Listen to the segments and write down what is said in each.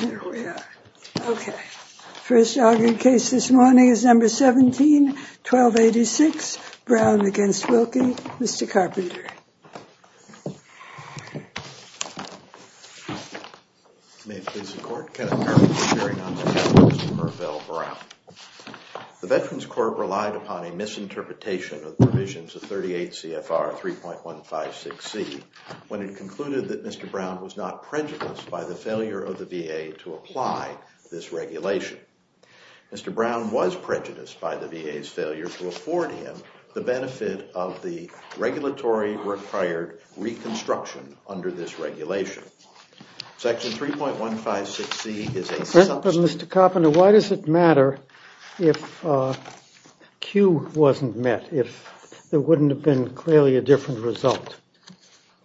There we are. Okay. First argued case this morning is number 171286 Brown against Wilkie. Mr. Carpenter. The Veterans Corp relied upon a misinterpretation of provisions of 38 CFR 3.156 C when it concluded that Mr. Brown was not prejudiced by the failure of the VA to apply this regulation. Mr. Brown was prejudiced by the VA's failure to afford him the benefit of the regulatory required reconstruction under this regulation. Section 3.156 C is Mr. Carpenter. Why does it matter if Q wasn't met if there wouldn't have been clearly a different result?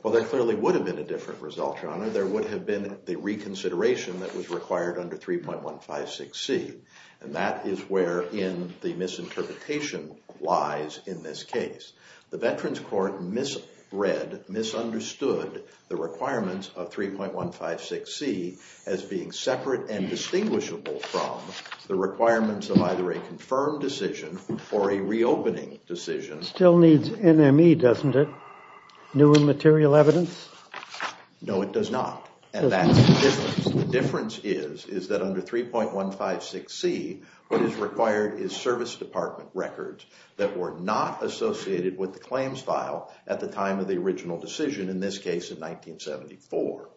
Well, there clearly would have been a different result, your honor. There would have been the reconsideration that was required under 3.156 C. And that is where in the misinterpretation lies in this case. The Veterans Court misread, misunderstood the requirements of 3.156 C as being separate and distinguishable from the requirements of either a confirmed decision or a reopening decision. It still needs NME, doesn't it? New and material evidence? No, it does not. And that's the difference. The difference is, is that under 3.156 C what is required is service department records that were not associated with the claims file at the time of the original decision, in this case in 1974.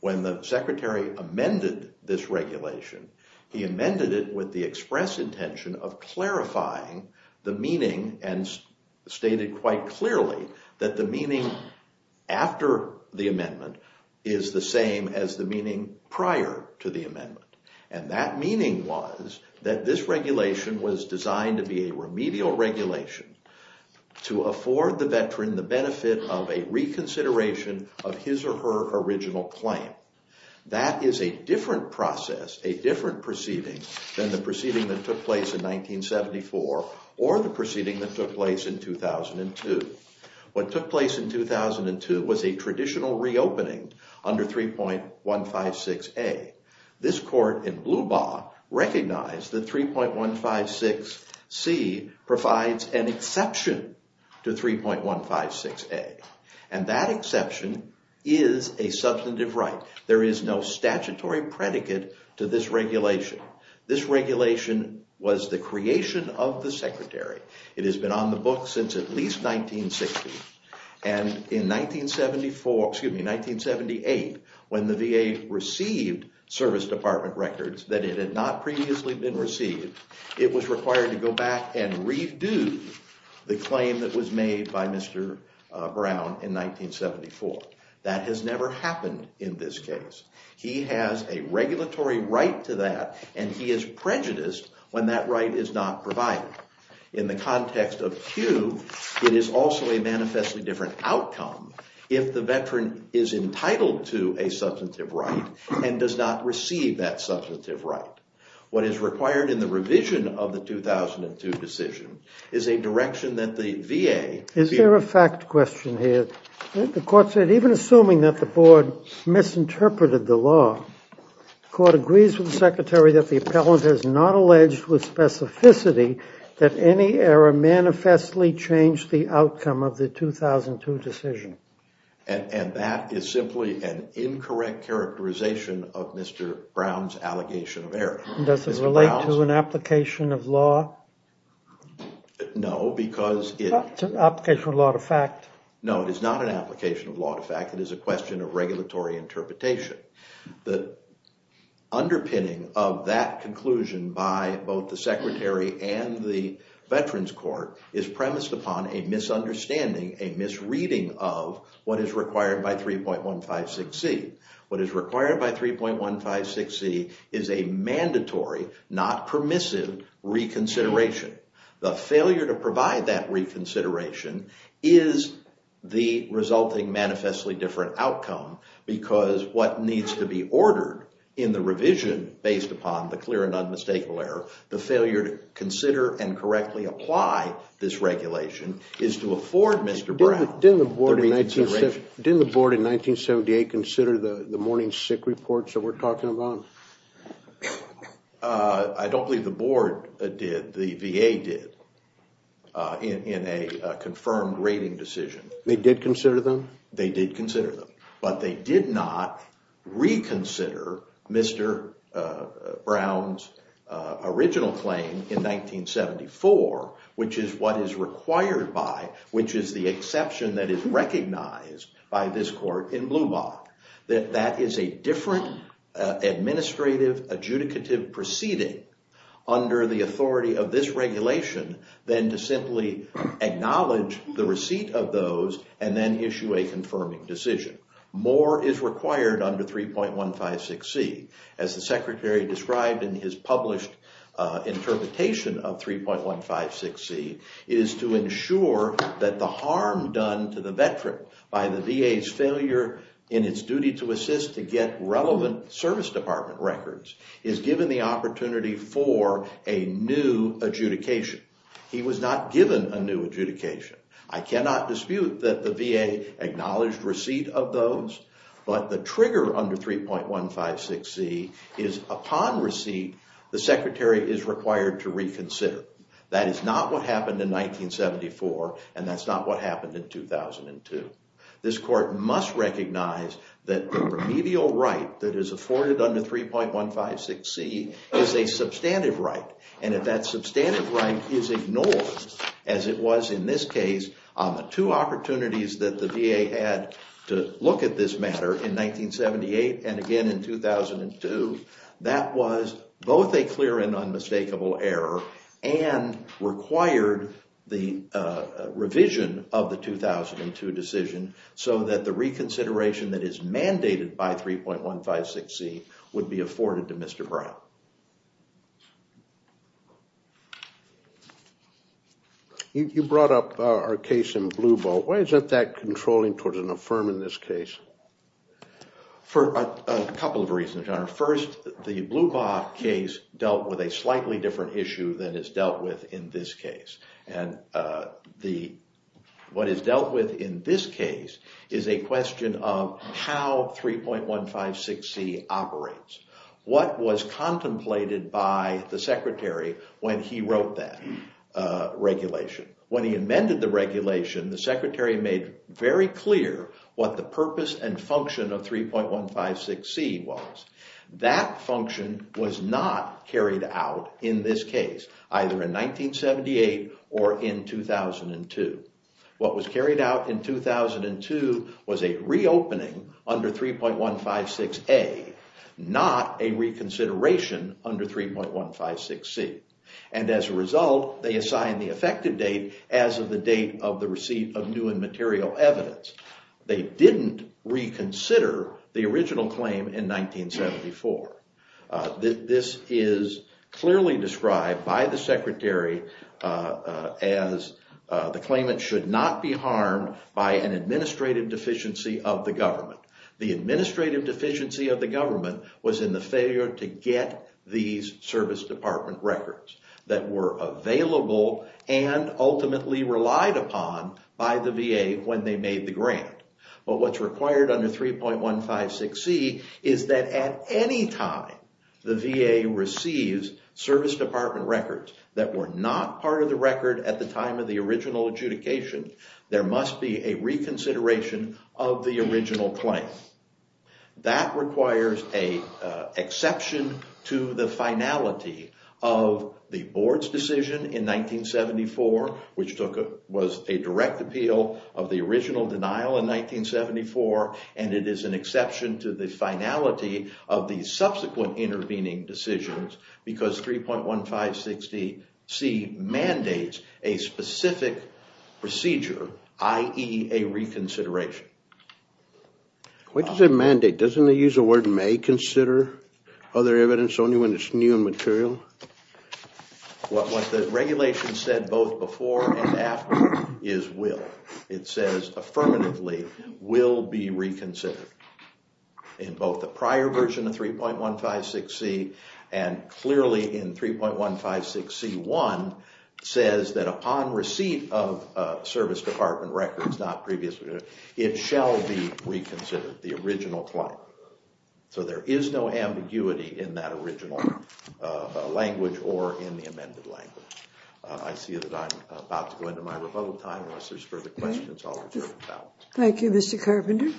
When the secretary amended this regulation, he amended it with the express intention of clarifying the meaning and stated quite clearly that the meaning after the amendment is the same as the meaning prior to the amendment. And that meaning was that this regulation was designed to be a remedial regulation to afford the veteran the benefit of a reconsideration of his or her original claim. That is a different process, a different proceeding than the proceeding that took place in 1974 or the proceeding that took place in 2002. What took place in 2002 was a traditional reopening under 3.156 A. This court in Blubaugh recognized that 3.156 C provides an exception to 3.156 A. And that exception is a substantive right. There is no statutory predicate to this regulation. This regulation was the creation of the secretary. It has been on the books since at least 1960. And in 1974, excuse me, 1978, when the VA received service department records that it had not previously been received, it was required to go back and redo the claim that was made by Mr. Brown in 1974. That has never happened in this case. He has a regulatory right to that, and he is prejudiced when that right is not provided. In the context of Q, it is also a manifestly different outcome if the veteran is entitled to a substantive right and does not receive that substantive right. What is required in the revision of the 2002 decision is a direction that the VA Is there a fact question here? The court said even assuming that the board misinterpreted the law, the court agrees with the secretary that the appellant has not alleged with specificity that any error manifestly changed the outcome of the 2002 decision. And that is simply an incorrect characterization of Mr. Brown's allegation of error. Does it relate to an application of law? No, because it is not an application of law. In fact, it is a question of regulatory interpretation. The underpinning of that conclusion by both the secretary and the veterans court is premised upon a misunderstanding, a misreading of what is required by 3.156C. What is required by 3.156C is a mandatory, not permissive, reconsideration. The failure to provide that reconsideration is the resulting manifestly different outcome because what needs to be ordered in the revision based upon the clear and unmistakable error, the failure to consider and correctly apply this regulation, is to afford Mr. Brown the reconsideration. Didn't the board in 1978 consider the morning sick reports that we're talking about? I don't believe the board did. The VA did in a confirmed rating decision. They did consider them? They did consider them. But they did not reconsider Mr. Brown's original claim in 1974, which is what is required by, which is the exception that is recognized by this court in Blubach. That is a different administrative adjudicative proceeding under the authority of this regulation than to simply acknowledge the receipt of those and then issue a confirming decision. More is required under 3.156C, as the secretary described in his published interpretation of 3.156C, is to ensure that the harm done to the veteran by the VA's failure in its duty to assist to get relevant service department records is given the opportunity for a new adjudication. He was not given a new adjudication. I cannot dispute that the VA acknowledged receipt of those, but the trigger under 3.156C is upon receipt, the secretary is required to reconsider. That is not what happened in 1974, and that's not what happened in 2002. This court must recognize that the remedial right that is afforded under 3.156C is a substantive right, and if that substantive right is ignored, as it was in this case on the two opportunities that the VA had to look at this matter in 1978 and again in 2002, that was both a clear and unmistakable error, and required the revision of the 2002 decision so that the reconsideration that is mandated by 3.156C would be afforded to Mr. Brown. You brought up our case in Blue Boat. Why is that controlling toward an affirm in this case? For a couple of reasons, Your Honor. First, the Blue Boat case dealt with a slightly different issue than is dealt with in this case, and what is dealt with in this case is a question of how 3.156C operates. What was contemplated by the secretary when he wrote that regulation? When he amended the regulation, the secretary made very clear what the purpose and function of 3.156C was. That function was not carried out in this case, either in 1978 or in 2002. What was carried out in 2002 was a reopening under 3.156A, not a reconsideration under 3.156C. As a result, they assigned the effective date as of the date of the receipt of new and material evidence. They didn't reconsider the original claim in 1974. This is clearly described by the secretary as the claimant should not be harmed by an administrative deficiency of the government. The administrative deficiency of the government was in the failure to get these service department records that were available and ultimately relied upon by the VA when they made the grant. But what's required under 3.156C is that at any time the VA receives service department records that were not part of the record at the time of the original adjudication, there must be a reconsideration of the original claim. That requires an exception to the finality of the board's decision in 1974, which was a direct appeal of the original denial in 1974, and it is an exception to the finality of the subsequent intervening decisions because 3.156C mandates a specific procedure, i.e. a reconsideration. Why does it mandate? Doesn't it use the word may consider other evidence only when it's new and material? What the regulation said both before and after is will. It says affirmatively will be reconsidered in both the prior version of 3.156C and clearly in 3.156C1 says that upon receipt of service department records, not previously, it shall be reconsidered, the original claim. So there is no ambiguity in that original language or in the amended language. I see that I'm about to go into my rebuttal time unless there's further questions. Thank you, Mr. Carpenter.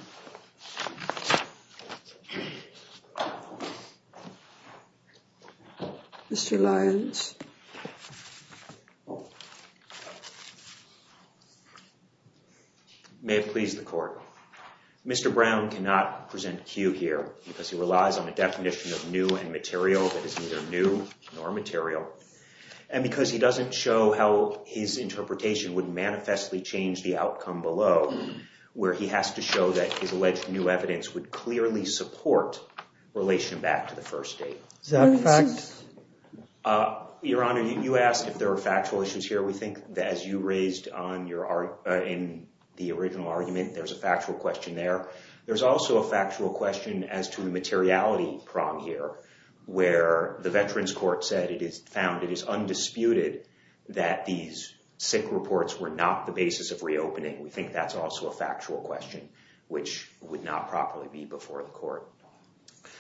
Mr. Lyons. May it please the court. Mr. Brown cannot present cue here because he relies on a definition of new and material that is neither new nor material. And because he doesn't show how his interpretation would manifestly change the outcome below where he has to show that his alleged new evidence would clearly support relation back to the first date. Your Honor, you asked if there are factual issues here. We think that as you raised on your in the original argument, there's a factual question there. There's also a factual question as to the materiality prong here where the Veterans Court said it is found it is undisputed that these sick reports were not the basis of reopening. We think that's also a factual question, which would not properly be before the court.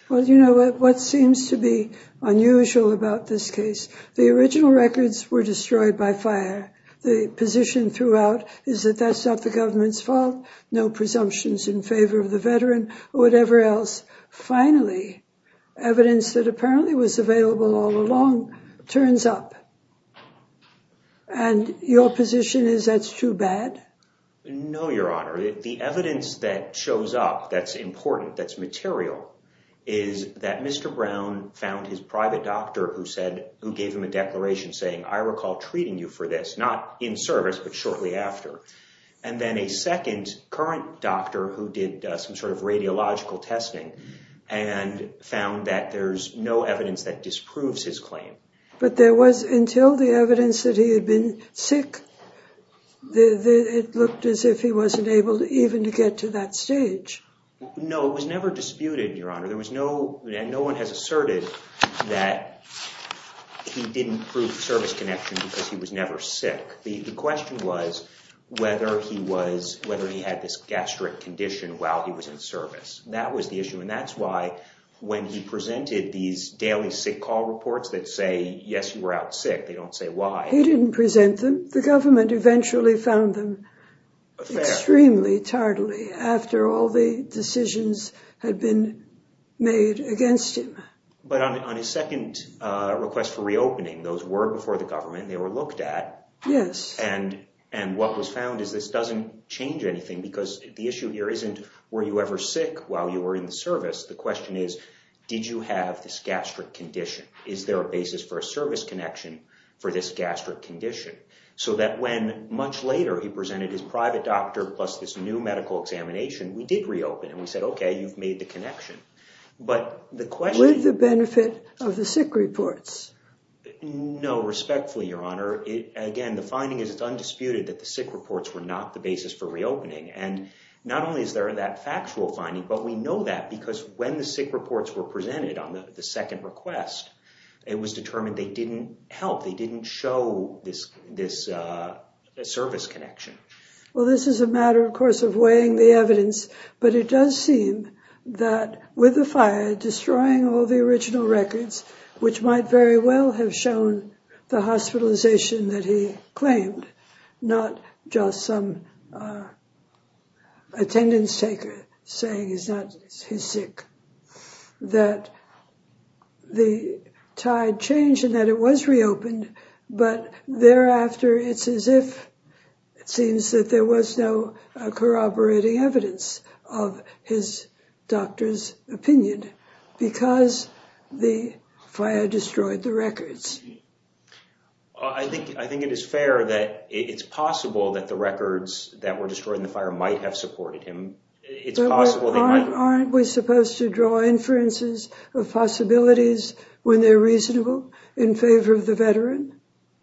Well, you know what seems to be unusual about this case? The original records were destroyed by fire. The position throughout is that that's not the government's fault. No presumptions in favor of the veteran or whatever else. Finally, evidence that apparently was available all along turns up. And your position is that's too bad. No, Your Honor. The evidence that shows up that's important, that's material, is that Mr. Brown found his private doctor who said who gave him a declaration saying, I recall treating you for this, not in service, but shortly after. And then a second current doctor who did some sort of radiological testing and found that there's no evidence that disproves his claim. But there was, until the evidence that he had been sick, it looked as if he wasn't able even to get to that stage. No, it was never disputed, Your Honor. No one has asserted that he didn't prove service connection because he was never sick. The question was whether he had this gastric condition while he was in service. And that's why when he presented these daily sick call reports that say, yes, you were out sick, they don't say why. He didn't present them. The government eventually found them extremely tardily after all the decisions had been made against him. But on his second request for reopening, those were before the government and they were looked at. Yes. And what was found is this doesn't change anything because the issue here isn't were you ever sick while you were in the service? The question is, did you have this gastric condition? Is there a basis for a service connection for this gastric condition? So that when much later he presented his private doctor plus this new medical examination, we did reopen and we said, OK, you've made the connection. But the question... With the benefit of the sick reports. No, respectfully, Your Honor. Again, the finding is it's undisputed that the sick reports were not the basis for reopening. And not only is there that factual finding, but we know that because when the sick reports were presented on the second request, it was determined they didn't help. They didn't show this this service connection. Well, this is a matter, of course, of weighing the evidence. But it does seem that with the fire destroying all the original records, which might very well have shown the hospitalization that he claimed, not just some thereafter, it's as if it seems that there was no corroborating evidence of his doctor's opinion because the fire destroyed the records. I think I think it is fair that it's possible that the records that were destroyed in the fire might have supported him. It's possible. Aren't we supposed to draw inferences of possibilities when they're reasonable in favor of the veteran?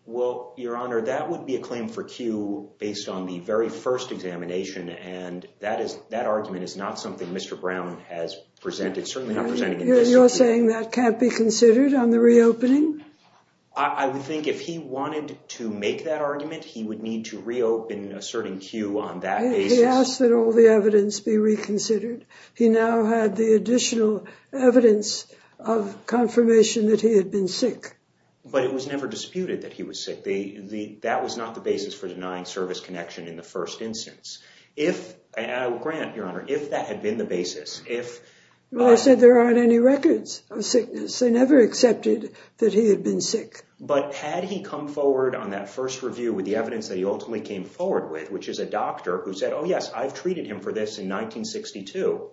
Well, Your Honor, that would be a claim for Q based on the very first examination. And that is that argument is not something Mr. Brown has presented, certainly not presenting. You're saying that can't be considered on the reopening. I would think if he wanted to make that argument, he would need to reopen a certain queue on that. He asked that all the evidence be reconsidered. He now had the additional evidence of confirmation that he had been sick. But it was never disputed that he was sick. The that was not the basis for denying service connection in the first instance. If Grant, Your Honor, if that had been the basis, if I said there aren't any records of sickness, I never accepted that he had been sick. But had he come forward on that first review with the evidence that he ultimately came forward with, which is a doctor who said, oh, yes, I've treated him for this in 1962,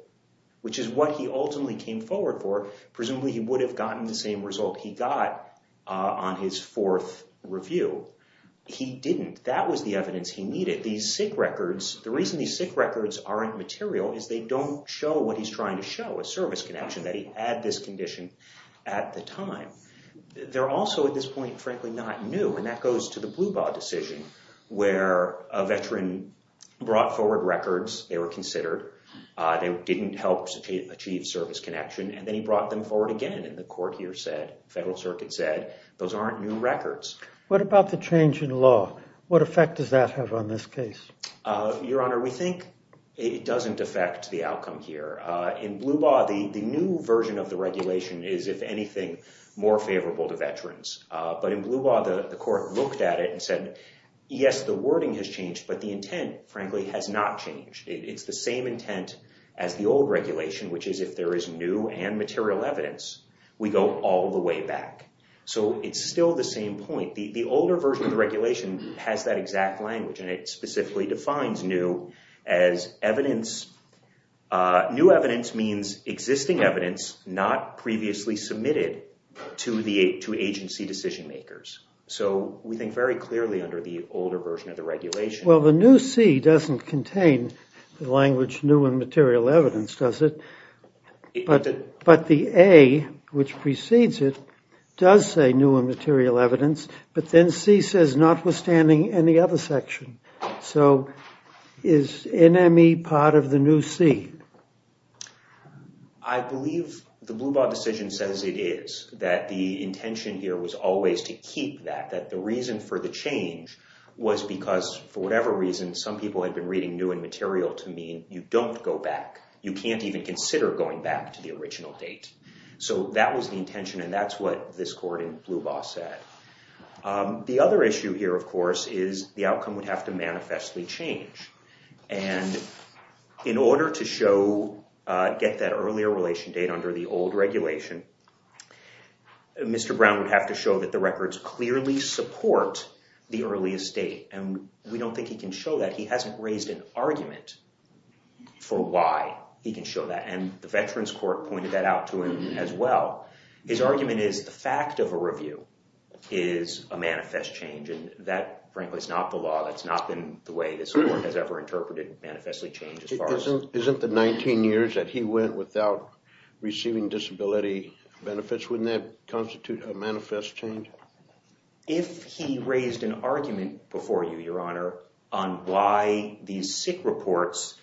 which is what he ultimately came forward for. Presumably he would have gotten the same result he got on his fourth review. He didn't. That was the evidence he needed. These sick records. The reason these sick records aren't material is they don't show what he's trying to show a service connection that he had this condition at the time. They're also at this point, frankly, not new. And that goes to the Blubaugh decision where a veteran brought forward records. They were considered. They didn't help achieve service connection. And then he brought them forward again. And the court here said, Federal Circuit said, those aren't new records. What about the change in law? What effect does that have on this case? Your Honor, we think it doesn't affect the outcome here in Blubaugh. The new version of the regulation is, if anything, more favorable to veterans. But in Blubaugh, the court looked at it and said, yes, the wording has changed, but the intent, frankly, has not changed. It's the same intent as the old regulation, which is if there is new and material evidence, we go all the way back. So it's still the same point. The older version of the regulation has that exact language. And it specifically defines new as evidence. New evidence means existing evidence not previously submitted to agency decision makers. So we think very clearly under the older version of the regulation. Well, the new C doesn't contain the language new and material evidence, does it? But the A, which precedes it, does say new and material evidence. But then C says notwithstanding any other section. So is NME part of the new C? I believe the Blubaugh decision says it is. That the intention here was always to keep that. That the reason for the change was because, for whatever reason, some people had been reading new and material to mean you don't go back. You can't even consider going back to the original date. So that was the intention, and that's what this court in Blubaugh said. The other issue here, of course, is the outcome would have to manifestly change. And in order to get that earlier relation date under the old regulation, Mr. Brown would have to show that the records clearly support the earliest date. And we don't think he can show that. He hasn't raised an argument for why he can show that. And the Veterans Court pointed that out to him as well. His argument is the fact of a review is a manifest change. And that, frankly, is not the law. That's not been the way this court has ever interpreted manifestly change. Isn't the 19 years that he went without receiving disability benefits, wouldn't that constitute a manifest change? If he raised an argument before you, Your Honor, on why these sick reports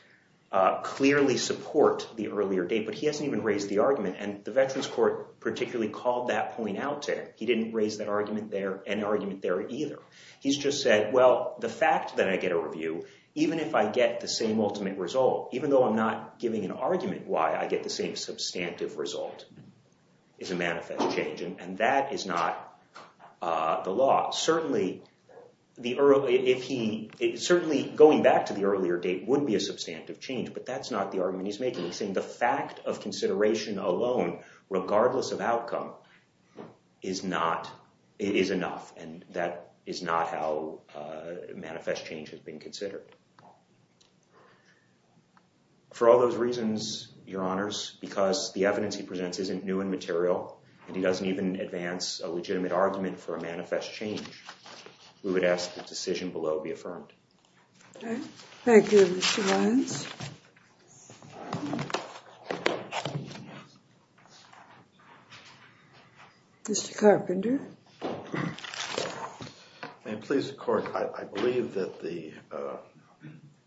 clearly support the earlier date, but he hasn't even raised the argument. And the Veterans Court particularly called that point out to him. He didn't raise an argument there either. He's just said, well, the fact that I get a review, even if I get the same ultimate result, even though I'm not giving an argument why I get the same substantive result, is a manifest change. And that is not the law. Certainly, going back to the earlier date would be a substantive change, but that's not the argument he's making. He's saying the fact of consideration alone, regardless of outcome, is enough. And that is not how manifest change has been considered. For all those reasons, Your Honors, because the evidence he presents isn't new and material, and he doesn't even advance a legitimate argument for a manifest change, we would ask the decision below be affirmed. Thank you, Mr. Lyons. Mr. Carpenter. May it please the Court, I believe that the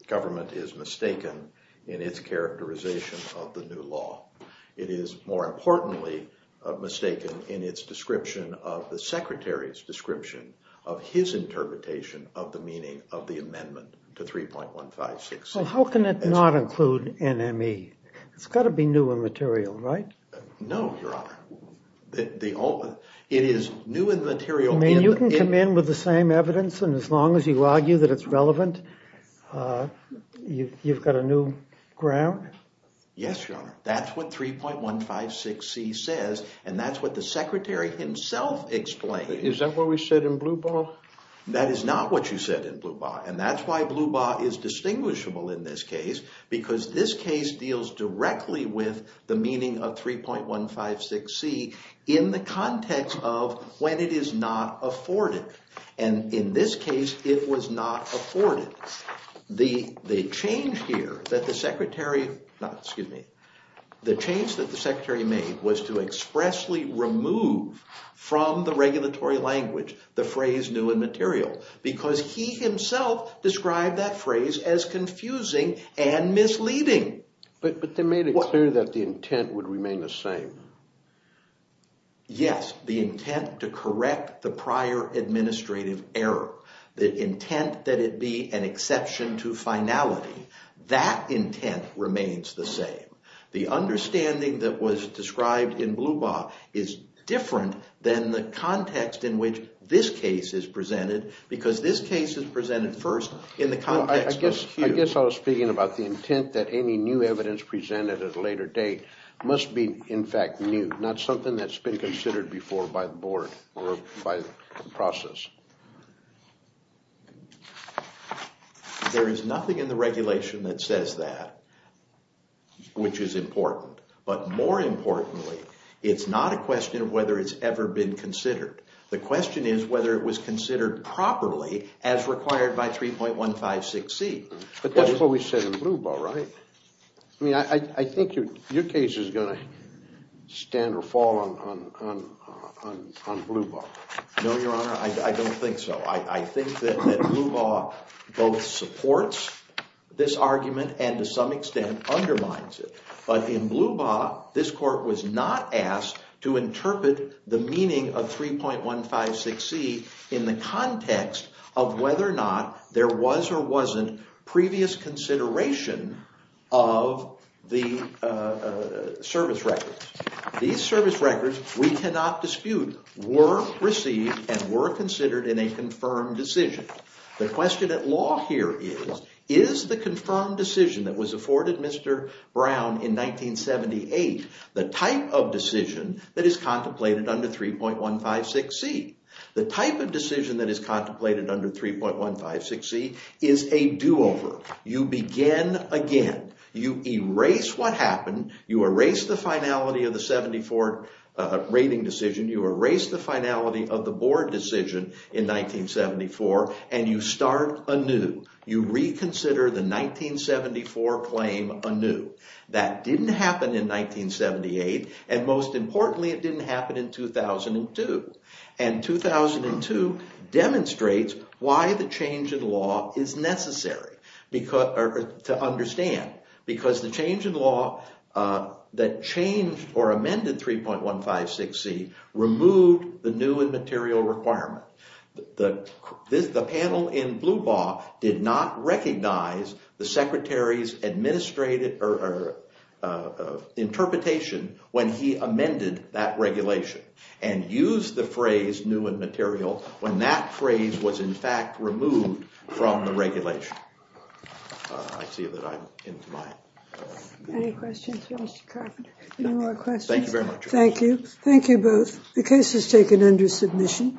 government is mistaken in its characterization of the new law. It is, more importantly, mistaken in its description of the Secretary's description of his interpretation of the meaning of the amendment to 3.156. Well, how can it not include NME? It's got to be new and material, right? No, Your Honor. It is new and material. I mean, you can come in with the same evidence, and as long as you argue that it's relevant, you've got a new ground? Yes, Your Honor. That's what 3.156c says, and that's what the Secretary himself explained. Is that what we said in Blubaugh? in the context of when it is not afforded, and in this case, it was not afforded. The change here that the Secretary made was to expressly remove from the regulatory language the phrase new and material, because he himself described that phrase as confusing and misleading. But they made it clear that the intent would remain the same. Yes, the intent to correct the prior administrative error, the intent that it be an exception to finality. That intent remains the same. The understanding that was described in Blubaugh is different than the context in which this case is presented, because this case is presented first in the context of Hughes. I guess I was speaking about the intent that any new evidence presented at a later date must be, in fact, new, not something that's been considered before by the Board or by the process. There is nothing in the regulation that says that, which is important. But more importantly, it's not a question of whether it's ever been considered. The question is whether it was considered properly as required by 3.156C. But that's what we said in Blubaugh, right? I mean, I think your case is going to stand or fall on Blubaugh. No, Your Honor, I don't think so. I think that Blubaugh both supports this argument and to some extent undermines it. But in Blubaugh, this Court was not asked to interpret the meaning of 3.156C in the context of whether or not there was or wasn't previous consideration of the service records. These service records, we cannot dispute, were received and were considered in a confirmed decision. The question at law here is, is the confirmed decision that was afforded Mr. Brown in 1978 the type of decision that is contemplated under 3.156C? The type of decision that is contemplated under 3.156C is a do-over. You begin again. You erase what happened. You erase the finality of the 74 rating decision. You erase the finality of the board decision in 1974, and you start anew. You reconsider the 1974 claim anew. That didn't happen in 1978, and most importantly, it didn't happen in 2002. And 2002 demonstrates why the change in law is necessary to understand because the change in law that changed or amended 3.156C removed the new and material requirement. The panel in Blubaugh did not recognize the secretary's interpretation when he amended that regulation and used the phrase new and material when that phrase was in fact removed from the regulation. I see that I'm into my... Any questions for Mr. Carpenter? Any more questions? Thank you very much. Thank you. Thank you both. The case is taken under submission.